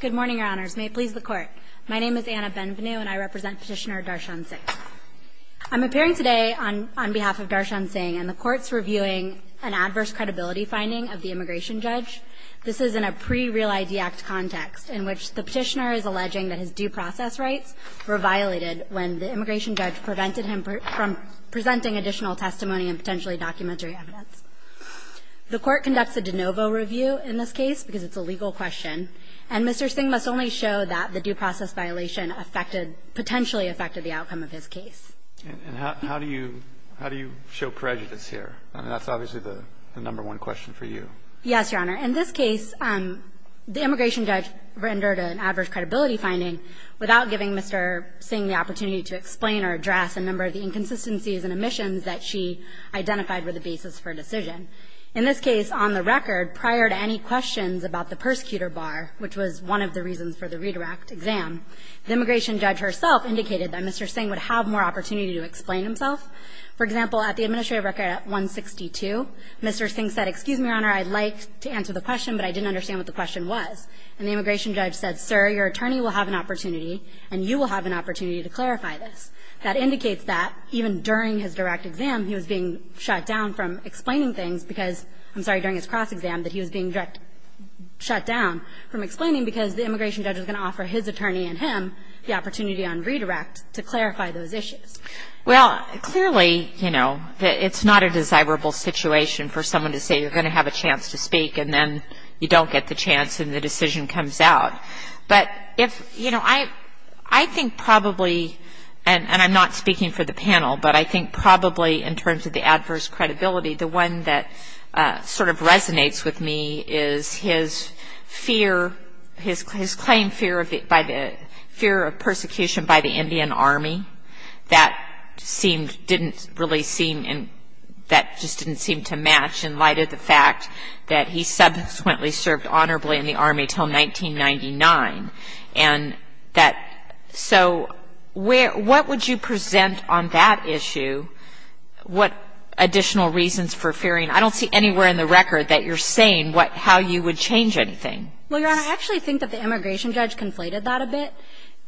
Good morning, Your Honors. May it please the Court. My name is Anna Benvenu, and I represent Petitioner Darshan Singh. I'm appearing today on behalf of Darshan Singh, and the Court's reviewing an adverse credibility finding of the immigration judge. This is in a pre-Real ID Act context, in which the petitioner is alleging that his due process rights were violated when the immigration judge prevented him from presenting additional testimony and potentially documentary evidence. The Court conducts a de novo review in this case, because it's a legal question. And Mr. Singh must only show that the due process violation affected – potentially affected the outcome of his case. And how do you – how do you show prejudice here? I mean, that's obviously the number one question for you. Yes, Your Honor. In this case, the immigration judge rendered an adverse credibility finding without giving Mr. Singh the opportunity to explain or address a number of the inconsistencies and omissions that she identified were the basis for a decision. In this case, on the record, prior to any questions about the persecutor bar, which was one of the reasons for the redirect exam, the immigration judge herself indicated that Mr. Singh would have more opportunity to explain himself. For example, at the administrative record at 162, Mr. Singh said, excuse me, Your Honor, I'd like to answer the question, but I didn't understand what the question was. And the immigration judge said, sir, your attorney will have an opportunity, and you will have an opportunity to clarify this. That indicates that even during his direct exam, he was being shut down from explaining things because – I'm sorry, during his cross-exam, that he was being shut down from explaining because the immigration judge was going to offer his attorney and him the opportunity on redirect to clarify those issues. Well, clearly, you know, it's not a desirable situation for someone to say you're going to have a chance to speak and then you don't get the chance and the decision comes out. But if, you know, I think probably, and I'm not speaking for the panel, but I think probably in terms of the adverse credibility, the one that sort of resonates with me is his fear, his claimed fear of the – fear of persecution by the Indian Army. That seemed – didn't really seem – that just didn't seem to match in light of the fact that he subsequently served honorably in the Army until 1999. And that – so where – what would you present on that issue? What additional reasons for fearing? I don't see anywhere in the record that you're saying what – how you would change anything. Well, Your Honor, I actually think that the immigration judge conflated that a bit.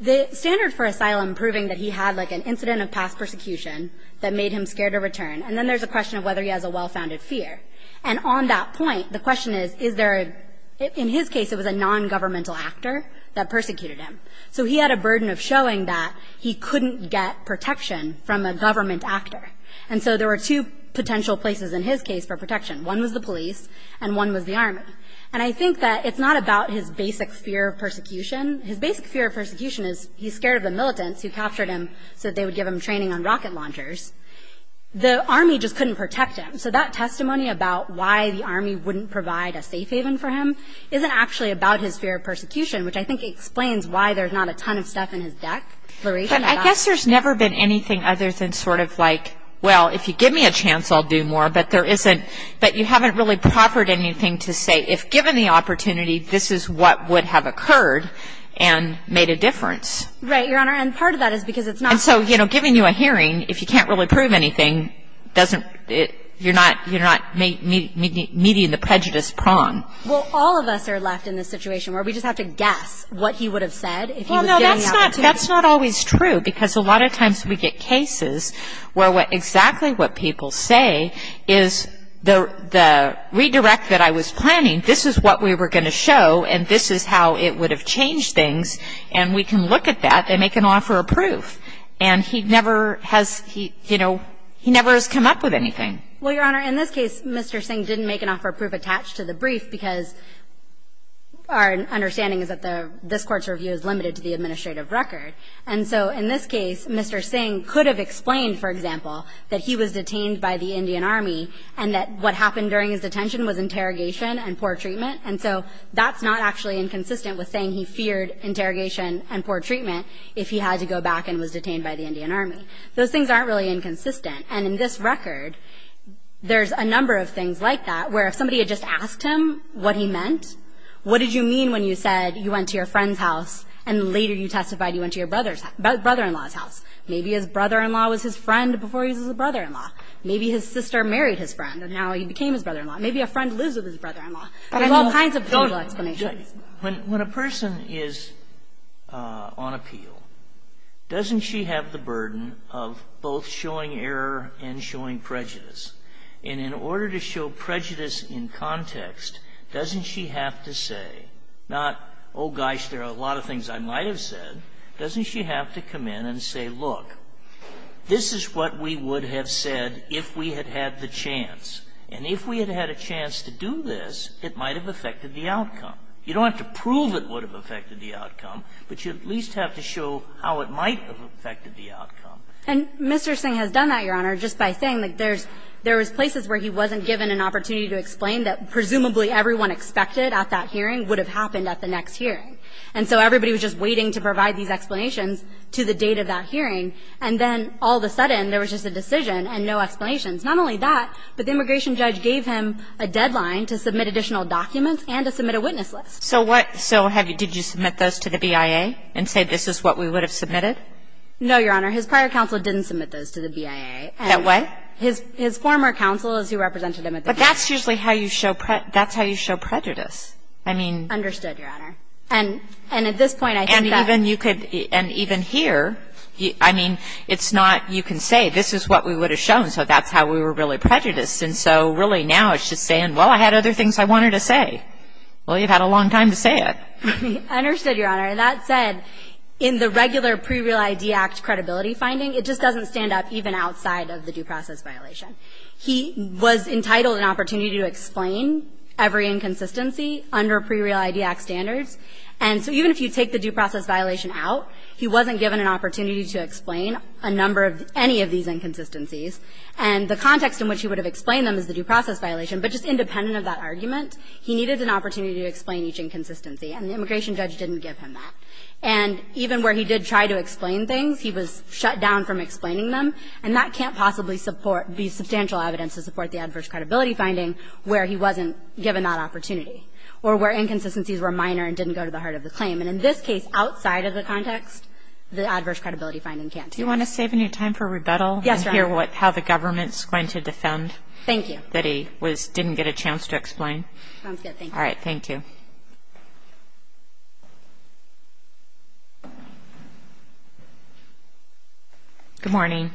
The standard for asylum proving that he had, like, an incident of past persecution that made him scared to return, and then there's a question of whether he has a well-founded fear. And on that point, the question is, is there a – in his case, it was a nongovernmental actor that persecuted him. So he had a burden of showing that he couldn't get protection from a government actor. And so there were two potential places in his case for protection. One was the police and one was the Army. And I think that it's not about his basic fear of persecution. His basic fear of persecution is he's scared of the militants who captured him so that they would give him training on rocket launchers. The Army just couldn't protect him. So that testimony about why the Army wouldn't provide a safe haven for him isn't actually about his fear of persecution, which I think explains why there's not a ton of stuff in his declaration about it. But I guess there's never been anything other than sort of like, well, if you give me a chance, I'll do more. But there isn't – but you haven't really proffered anything to say, if given the opportunity, this is what would have occurred and made a difference. Right, Your Honor. And part of that is because it's not – And so, you know, giving you a hearing, if you can't really prove anything, doesn't – you're not meeting the prejudice prong. Well, all of us are left in this situation where we just have to guess what he would have said if he was giving the opportunity. Well, no, that's not always true because a lot of times we get cases where exactly what people say is the redirect that I was planning, this is what we were going to show and this is how it would have changed things, and we can look at that and make an offer of proof. And he never has – he, you know, he never has come up with anything. Well, Your Honor, in this case, Mr. Singh didn't make an offer of proof attached to the brief because our understanding is that the – this Court's review is limited to the administrative record. And so in this case, Mr. Singh could have explained, for example, that he was detained by the Indian Army and that what happened during his detention was interrogation and poor treatment. And so that's not actually inconsistent with saying he feared interrogation and poor treatment if he had to go back and was detained by the Indian Army. Those things aren't really inconsistent. And in this record, there's a number of things like that where if somebody had just asked him what he meant, what did you mean when you said you went to your friend's house and later you testified you went to your brother-in-law's house? Maybe his brother-in-law was his friend before he was his brother-in-law. Maybe his sister married his friend and now he became his brother-in-law. Maybe a friend lives with his brother-in-law. There's all kinds of total explanations. Sotomayor When a person is on appeal, doesn't she have the burden of both showing error and showing prejudice? And in order to show prejudice in context, doesn't she have to say not, oh, gosh, there are a lot of things I might have said. Doesn't she have to come in and say, look, this is what we would have said if we had had the chance. And if we had had a chance to do this, it might have affected the outcome. You don't have to prove it would have affected the outcome, but you at least have to show how it might have affected the outcome. Sherry And Mr. Singh has done that, Your Honor, just by saying that there's places where he wasn't given an opportunity to explain that presumably everyone expected at that hearing would have happened at the next hearing. And so everybody was just waiting to provide these explanations to the date of that hearing, and then all of a sudden there was just a decision and no explanations. Not only that, but the immigration judge gave him a deadline to submit additional documents and to submit a witness list. Kagan So what, so did you submit those to the BIA and say this is what we would have submitted? Sherry No, Your Honor. His prior counsel didn't submit those to the BIA. Kagan And what? Sherry His former counsel is who represented him at the hearing. Kagan But that's usually how you show prejudice. I mean. Sherry Understood, Your Honor. And at this point I think that. Kagan And even here, I mean, it's not you can say this is what we would have shown, so that's how we were really prejudiced. And so really now it's just saying, well, I had other things I wanted to say. Well, you've had a long time to say it. Sherry Understood, Your Honor. And that said, in the regular Pre-Real ID Act credibility finding, it just doesn't stand up even outside of the due process violation. He was entitled an opportunity to explain every inconsistency under Pre-Real ID Act standards. And so even if you take the due process violation out, he wasn't given an opportunity to explain a number of any of these inconsistencies. And the context in which he would have explained them is the due process violation, but just independent of that argument, he needed an opportunity to explain each inconsistency. And the immigration judge didn't give him that. And even where he did try to explain things, he was shut down from explaining them. And that can't possibly be substantial evidence to support the adverse credibility finding where he wasn't given that opportunity or where inconsistencies were minor and didn't go to the heart of the claim. And in this case, outside of the context, the adverse credibility finding can't do that. Do you want to save any time for rebuttal? Yes, Your Honor. And hear how the government is going to defend that he didn't get a chance to explain? Sounds good. Thank you. All right. Thank you. Good morning.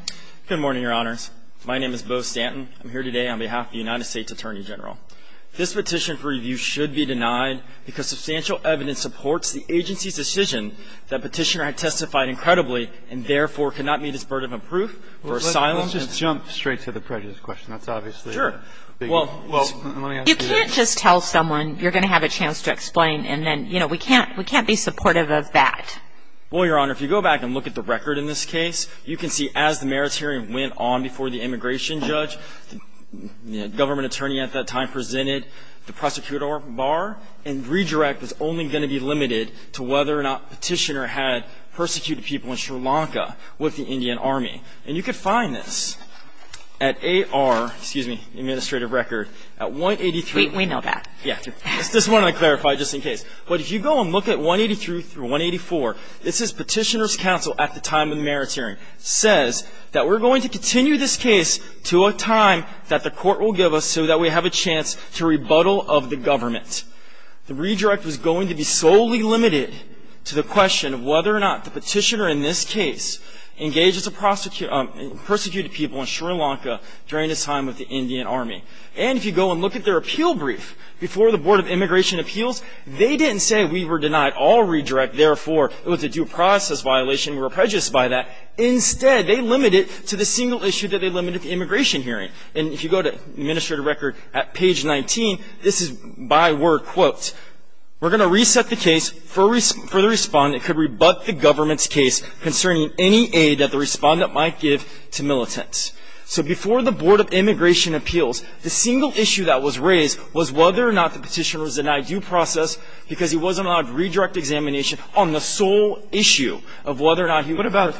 Good morning, Your Honors. My name is Beau Stanton. I'm here today on behalf of the United States Attorney General. This petition for review should be denied because substantial evidence supports the agency's decision that petitioner had testified incredibly and, therefore, could not meet his burden of proof for asylum. Let's just jump straight to the prejudice question. That's obviously a big issue. Sure. Well, let me ask you this. You can't just tell someone you're going to have a chance to explain and then, you know, we can't be supportive of that. Well, Your Honor, if you go back and look at the record in this case, you can see as the merits hearing went on before the immigration judge, the government attorney at that time presented the prosecutorial bar, and redirect was only going to be limited to whether or not petitioner had persecuted people in Sri Lanka with the Indian Army. And you can find this at AR, excuse me, administrative record, at 183. We know that. Yeah. It's this one I clarified just in case. But if you go and look at 183 through 184, this is petitioner's counsel at the time of the merits hearing. It says that we're going to continue this case to a time that the court will give us so that we have a chance to rebuttal of the government. The redirect was going to be solely limited to the question of whether or not the petitioner in this case engaged as a prosecutor, persecuted people in Sri Lanka during his time with the Indian Army. And if you go and look at their appeal brief before the Board of Immigration Appeals, they didn't say we were denied all redirect, therefore, it was a due process violation. We were prejudiced by that. Instead, they limited it to the single issue that they limited the immigration hearing. And if you go to administrative record at page 19, this is by word quote. We're going to reset the case for the respondent could rebut the government's case concerning any aid that the respondent might give to militants. So before the Board of Immigration Appeals, the single issue that was raised was whether or not the petitioner was denied due process because he wasn't allowed redirect examination on the sole issue of whether or not he was. What about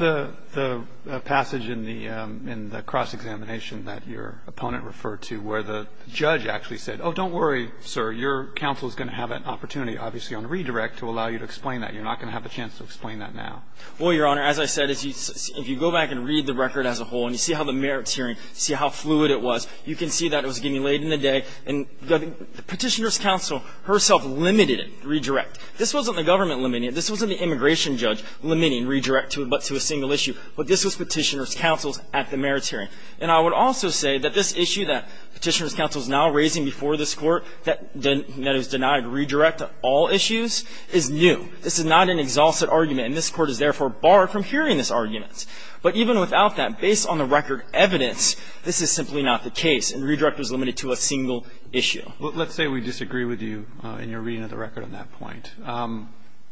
the passage in the cross-examination that your opponent referred to where the judge actually said, oh, don't worry, sir, your counsel is going to have an opportunity, obviously, on redirect to allow you to explain that. You're not going to have a chance to explain that now. Well, Your Honor, as I said, if you go back and read the record as a whole and you see how the merits hearing, see how fluid it was, you can see that it was getting laid in a day. And the petitioner's counsel herself limited it, redirect. This wasn't the government limiting it. This wasn't the immigration judge limiting redirect to a single issue. But this was petitioner's counsel's at the merits hearing. And I would also say that this issue that petitioner's counsel is now raising before this Court that is denied redirect to all issues is new. This is not an exhaustive argument, and this Court is therefore barred from hearing this argument. But even without that, based on the record evidence, this is simply not the case, and redirect was limited to a single issue. Let's say we disagree with you in your reading of the record on that point.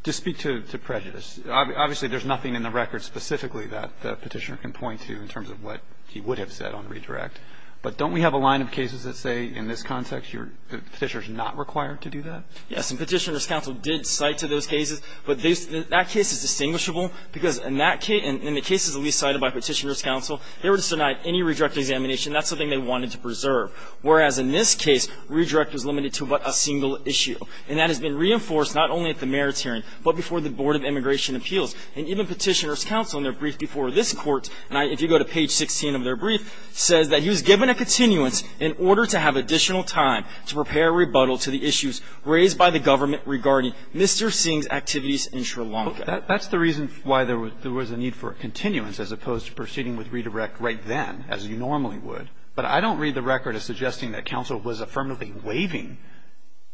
Just speak to prejudice. Obviously, there's nothing in the record specifically that the petitioner can point to in terms of what he would have said on redirect. But don't we have a line of cases that say, in this context, your petitioner is not required to do that? Yes. And petitioner's counsel did cite to those cases. But that case is distinguishable because in that case, in the cases at least cited by petitioner's counsel, they were just denied any redirect examination. That's something they wanted to preserve. Whereas in this case, redirect was limited to but a single issue. And that has been reinforced not only at the mayor's hearing but before the Board of Immigration Appeals. And even petitioner's counsel in their brief before this Court, and if you go to page 16 of their brief, says that he was given a continuance in order to have additional time to prepare a rebuttal to the issues raised by the government regarding Mr. Singh's activities in Sri Lanka. That's the reason why there was a need for a continuance as opposed to proceeding with redirect right then, as you normally would. But I don't read the record as suggesting that counsel was affirmatively waiving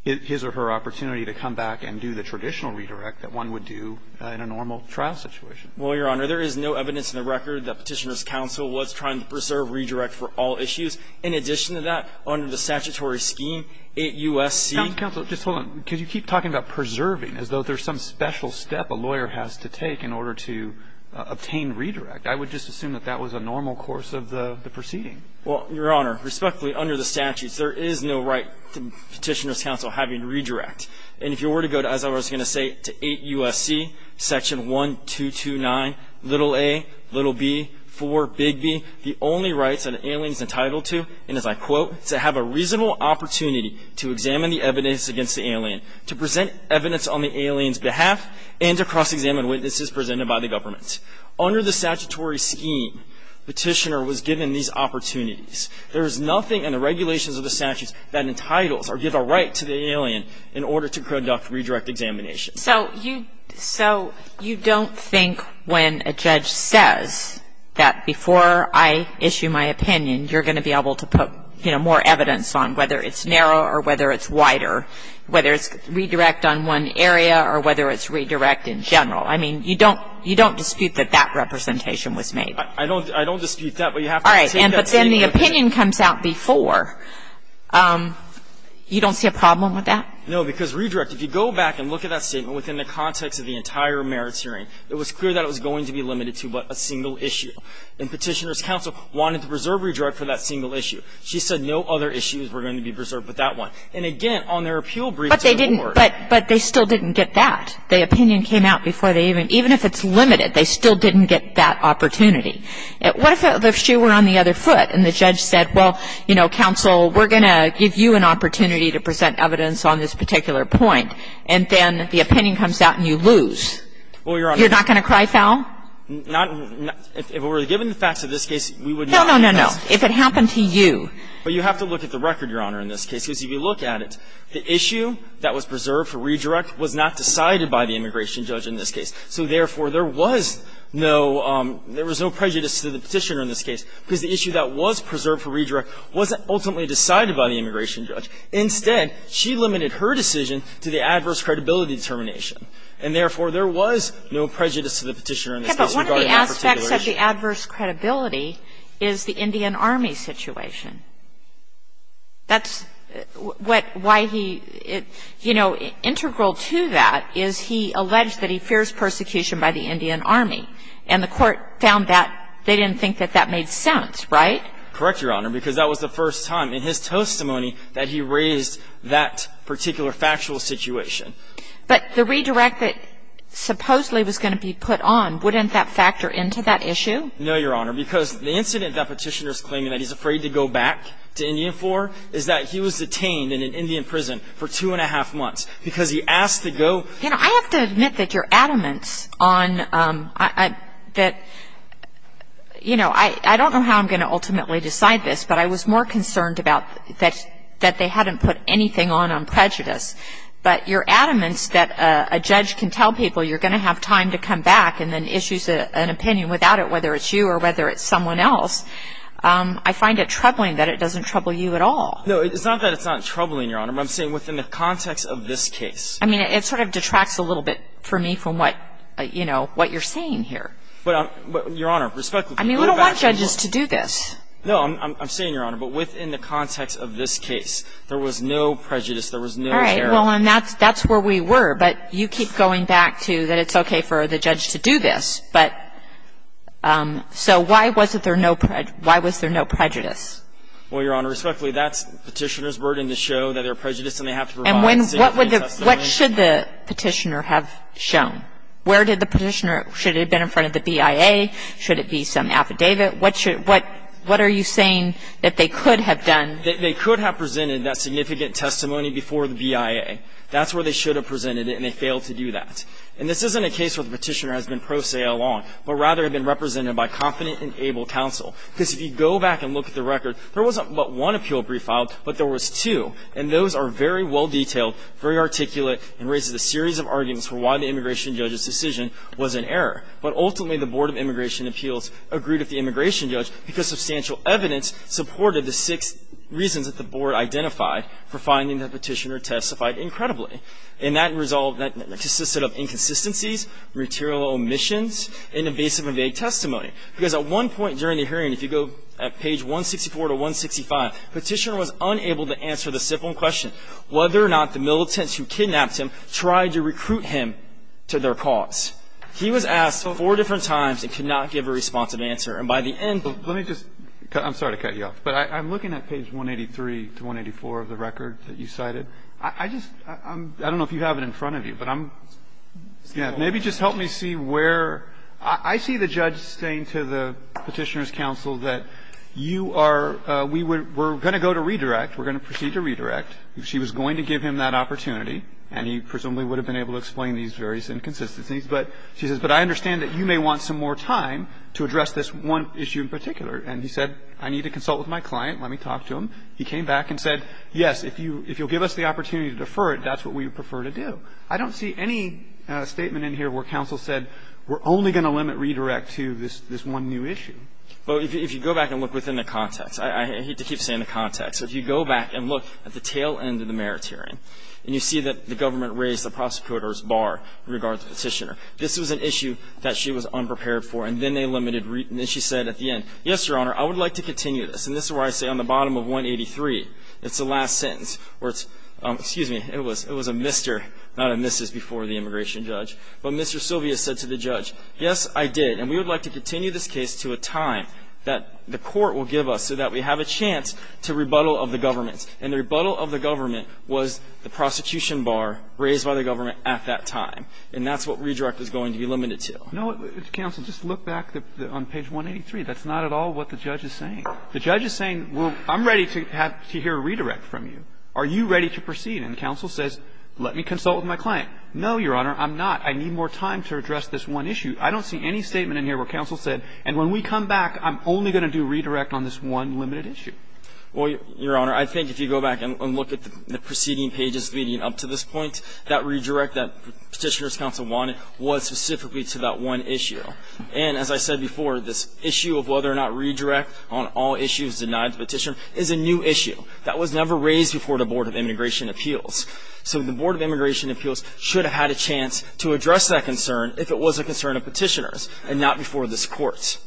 his or her opportunity to come back and do the traditional redirect that one would do in a normal trial situation. Well, Your Honor, there is no evidence in the record that petitioner's counsel was trying to preserve redirect for all issues. In addition to that, under the statutory scheme, it U.S.C. Counsel, just hold on. Because you keep talking about preserving as though there's some special step a lawyer has to take in order to obtain redirect. I would just assume that that was a normal course of the proceeding. Well, Your Honor, respectfully, under the statutes, there is no right to petitioner's counsel having redirect. And if you were to go to, as I was going to say, to 8 U.S.C. Section 1229, little A, little B, 4, big B, the only rights that an alien is entitled to, and as I quote, to have a reasonable opportunity to examine the evidence against the alien, to present evidence on the alien's behalf, and to cross-examine witnesses presented by the government. Under the statutory scheme, petitioner was given these opportunities. There is nothing in the regulations of the statutes that entitles or give a right to the alien in order to conduct redirect examination. So you don't think when a judge says that before I issue my opinion, you're going to be able to put more evidence on whether it's narrow or whether it's wider, whether it's redirect on one area or whether it's redirect in general. I mean, you don't dispute that that representation was made. I don't dispute that, but you have to take that statement. All right. But then the opinion comes out before. You don't see a problem with that? No. Because redirect, if you go back and look at that statement within the context of the entire merits hearing, it was clear that it was going to be limited to but a single issue. And petitioner's counsel wanted to preserve redirect for that single issue. She said no other issues were going to be preserved but that one. And again, on their appeal brief, it didn't work. But they still didn't get that. The opinion came out before they even, even if it's limited, they still didn't get that opportunity. What if the shoe were on the other foot and the judge said, well, you know, counsel, we're going to give you an opportunity to present evidence on this particular point, and then the opinion comes out and you lose? Well, Your Honor. You're not going to cry foul? If it were given the facts of this case, we would not. No, no, no, no. If it happened to you. But you have to look at the record, Your Honor, in this case, because if you look at it, the issue that was preserved for redirect was not decided by the immigration judge in this case. So therefore, there was no, there was no prejudice to the petitioner in this case because the issue that was preserved for redirect wasn't ultimately decided by the immigration judge. Instead, she limited her decision to the adverse credibility determination. And therefore, there was no prejudice to the petitioner in this case regarding that particular issue. But one of the aspects of the adverse credibility is the Indian Army situation. That's what, why he, you know, integral to that is he alleged that he fears persecution by the Indian Army. And the Court found that they didn't think that that made sense, right? Correct, Your Honor, because that was the first time in his testimony that he raised that particular factual situation. But the redirect that supposedly was going to be put on, wouldn't that factor into that issue? No, Your Honor, because the incident that petitioner is claiming that he's afraid to go back to Indian for is that he was detained in an Indian prison for two and a half months because he asked to go. You know, I have to admit that your adamance on, that, you know, I don't know how I'm going to ultimately decide this, but I was more concerned about that they hadn't put anything on on prejudice. But your adamance that a judge can tell people you're going to have time to come back and then issues an opinion without it, whether it's you or whether it's someone else, I find it troubling that it doesn't trouble you at all. No, it's not that it's not troubling, Your Honor, but I'm saying within the context of this case. I mean, it sort of detracts a little bit for me from what, you know, what you're saying here. But, Your Honor, respectfully, go back to the court. I mean, we don't want judges to do this. No, I'm saying, Your Honor, but within the context of this case, there was no prejudice, there was no error. All right. Well, and that's where we were. But you keep going back to that it's okay for the judge to do this. But so why was there no prejudice? Well, Your Honor, respectfully, that's the Petitioner's burden to show that there are prejudices and they have to provide significant testimony. And what should the Petitioner have shown? Where did the Petitioner, should it have been in front of the BIA? Should it be some affidavit? What are you saying that they could have done? They could have presented that significant testimony before the BIA. That's where they should have presented it, and they failed to do that. And this isn't a case where the Petitioner has been pro se all along, but rather had been represented by confident and able counsel. Because if you go back and look at the record, there wasn't but one appeal brief filed, but there was two. And those are very well detailed, very articulate, and raise a series of arguments for why the immigration judge's decision was an error. But ultimately, the Board of Immigration Appeals agreed with the immigration judge because substantial evidence supported the six reasons that the Board identified for finding the Petitioner testified incredibly. And that result, that consisted of inconsistencies, material omissions, and evasive and vague testimony. Because at one point during the hearing, if you go at page 164 to 165, Petitioner was unable to answer the simple question, whether or not the militants who kidnapped him tried to recruit him to their cause. He was asked four different times and could not give a responsive answer. And by the end of the hearing, he was found guilty. Let me just, I'm sorry to cut you off, but I'm looking at page 183 to 184 of the record that you cited. I just, I don't know if you have it in front of you, but I'm, maybe just help me see where, I see the judge saying to the Petitioner's counsel that you are, we're going to go to redirect, we're going to proceed to redirect. She was going to give him that opportunity, and he presumably would have been able to explain these various inconsistencies. But she says, but I understand that you may want some more time to address this one issue in particular. And he said, I need to consult with my client. Let me talk to him. He came back and said, yes, if you'll give us the opportunity to defer it, that's what we would prefer to do. I don't see any statement in here where counsel said we're only going to limit redirect to this one new issue. Well, if you go back and look within the context, I hate to keep saying the context. If you go back and look at the tail end of the merits hearing, and you see that the government raised the prosecutor's bar in regard to the Petitioner, this was an issue that she was unprepared for. And then they limited, and then she said at the end, yes, Your Honor, I would like to continue this. And this is where I say on the bottom of 183, it's the last sentence where it's, excuse me, it was a Mr., not a Mrs. before the immigration judge. But Mr. Sylvia said to the judge, yes, I did. And we would like to continue this case to a time that the court will give us so that we have a chance to rebuttal of the government. And the rebuttal of the government was the prosecution bar raised by the government at that time. And that's what redirect is going to be limited to. No, counsel, just look back on page 183. That's not at all what the judge is saying. The judge is saying, well, I'm ready to hear a redirect from you. Are you ready to proceed? And counsel says, let me consult with my client. No, Your Honor, I'm not. I need more time to address this one issue. I don't see any statement in here where counsel said, and when we come back, I'm only going to do redirect on this one limited issue. Well, Your Honor, I think if you go back and look at the preceding pages leading up to this point, that redirect that Petitioner's counsel wanted was specifically to that one issue. And as I said before, this issue of whether or not redirect on all issues denied to Petitioner is a new issue that was never raised before the Board of Immigration Appeals. So the Board of Immigration Appeals should have had a chance to address that concern if it was a concern of Petitioner's and not before this Court.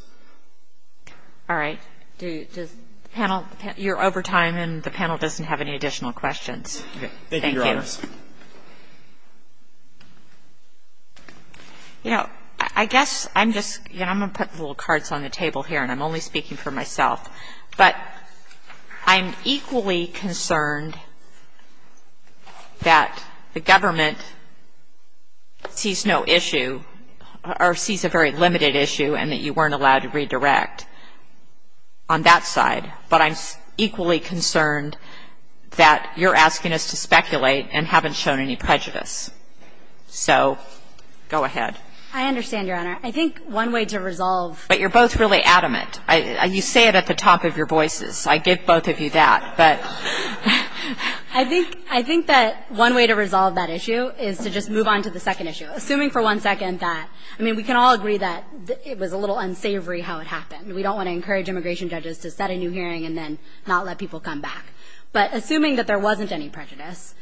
All right. Does the panel – you're over time, and the panel doesn't have any additional questions. Thank you. Thank you, Your Honor. I guess I'm just – I'm going to put little cards on the table here, and I'm only speaking for myself. But I'm equally concerned that the government sees no issue, or sees a very limited issue, and that you weren't allowed to redirect on that side. But I'm equally concerned that you're asking us to speculate, and I'm asking you So go ahead. I understand, Your Honor. I think one way to resolve – But you're both really adamant. You say it at the top of your voices. I give both of you that. But – I think – I think that one way to resolve that issue is to just move on to the second issue. Assuming for one second that – I mean, we can all agree that it was a little unsavory how it happened. We don't want to encourage immigration judges to set a new hearing and then not let people come back. But assuming that there wasn't any prejudice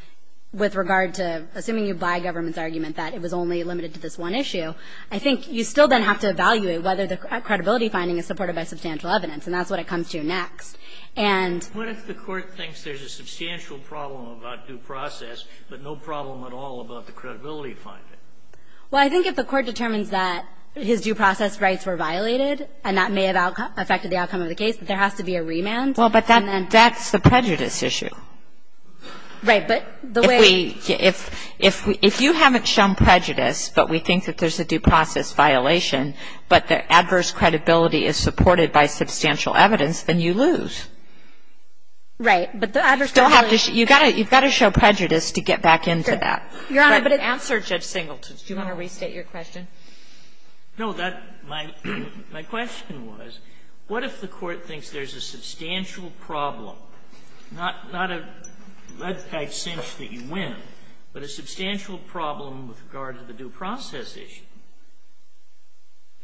with regard to – assuming you buy government's argument that it was only limited to this one issue, I think you still then have to evaluate whether the credibility finding is supported by substantial evidence. And that's what it comes to next. And – What if the Court thinks there's a substantial problem about due process, but no problem at all about the credibility finding? Well, I think if the Court determines that his due process rights were violated, and that may have affected the outcome of the case, there has to be a remand. Well, but that's the prejudice issue. Right. But the way – If we – if you haven't shown prejudice, but we think that there's a due process violation, but the adverse credibility is supported by substantial evidence, then you lose. Right. But the adverse credibility – You still have to – you've got to show prejudice to get back into that. Your Honor, but it – But in the answer, Judge Singleton, do you want to restate your question? No. That – my question was, what if the Court thinks there's a substantial problem, not a red-packed cinch that you win, but a substantial problem with regard to the due process issue?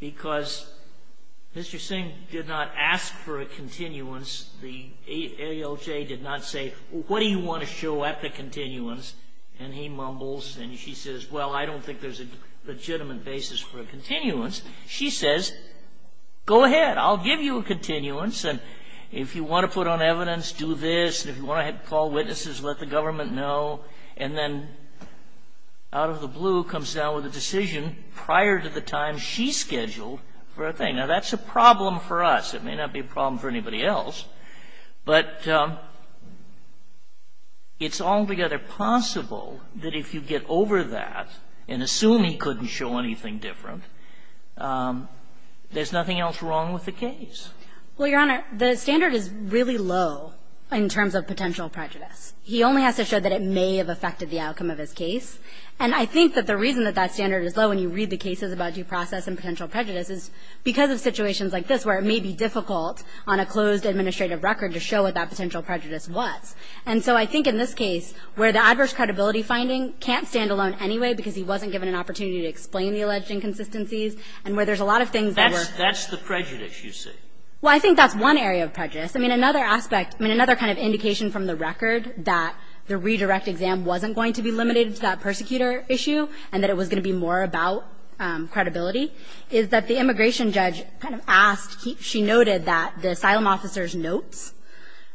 Because Mr. Singh did not ask for a continuance. The ALJ did not say, well, what do you want to show at the continuance? And he mumbles, and she says, well, I don't think there's a legitimate basis for a continuance. She says, go ahead. I'll give you a continuance, and if you want to put on evidence, do this. If you want to call witnesses, let the government know. And then out of the blue comes down with a decision prior to the time she scheduled for a thing. Now, that's a problem for us. It may not be a problem for anybody else. But it's altogether possible that if you get over that and assume he couldn't show anything different, there's nothing else wrong with the case. Well, Your Honor, the standard is really low in terms of potential prejudice. He only has to show that it may have affected the outcome of his case. And I think that the reason that that standard is low when you read the cases about due process and potential prejudice is because of situations like this where it may be difficult on a closed administrative record to show what that potential prejudice was. And so I think in this case, where the adverse credibility finding can't stand alone anyway because he wasn't given an opportunity to explain the alleged inconsistencies, and where there's a lot of things that were ---- That's the prejudice, you say. Well, I think that's one area of prejudice. I mean, another aspect, I mean, another kind of indication from the record that the redirect exam wasn't going to be limited to that persecutor issue and that it was going to be more about credibility is that the immigration judge kind of asked ---- she noted that the asylum officer's notes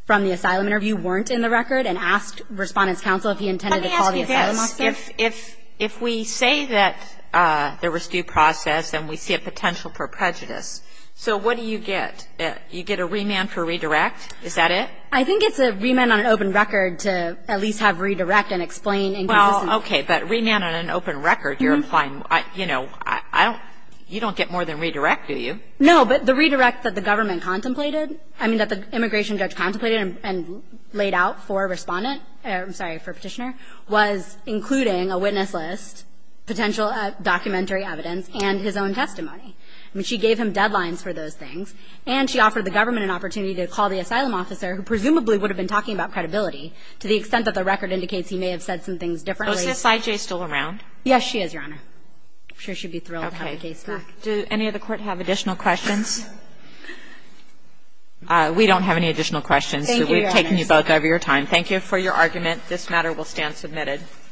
from the asylum interview weren't in the record and asked Respondent's Counsel if he intended to call the asylum Let me ask you this. If we say that there was due process and we see a potential for prejudice, so what do you get? You get a remand for redirect? Is that it? I think it's a remand on an open record to at least have redirect and explain inconsistencies. Well, okay. But remand on an open record, you're applying, you know, I don't ---- you don't get more than redirect, do you? No. But the redirect that the government contemplated, I mean, that the immigration judge contemplated and laid out for Respondent or, I'm sorry, for Petitioner was including a witness list, potential documentary evidence, and his own testimony. I mean, she gave him deadlines for those things, and she offered the government an opportunity to call the asylum officer, who presumably would have been talking about credibility, to the extent that the record indicates he may have said some things differently. Is OSSIJ still around? Yes, she is, Your Honor. I'm sure she'd be thrilled to have the case back. Do any of the Court have additional questions? We don't have any additional questions. Thank you, Your Honor. We've taken you both over your time. Thank you for your argument. This matter will stand submitted.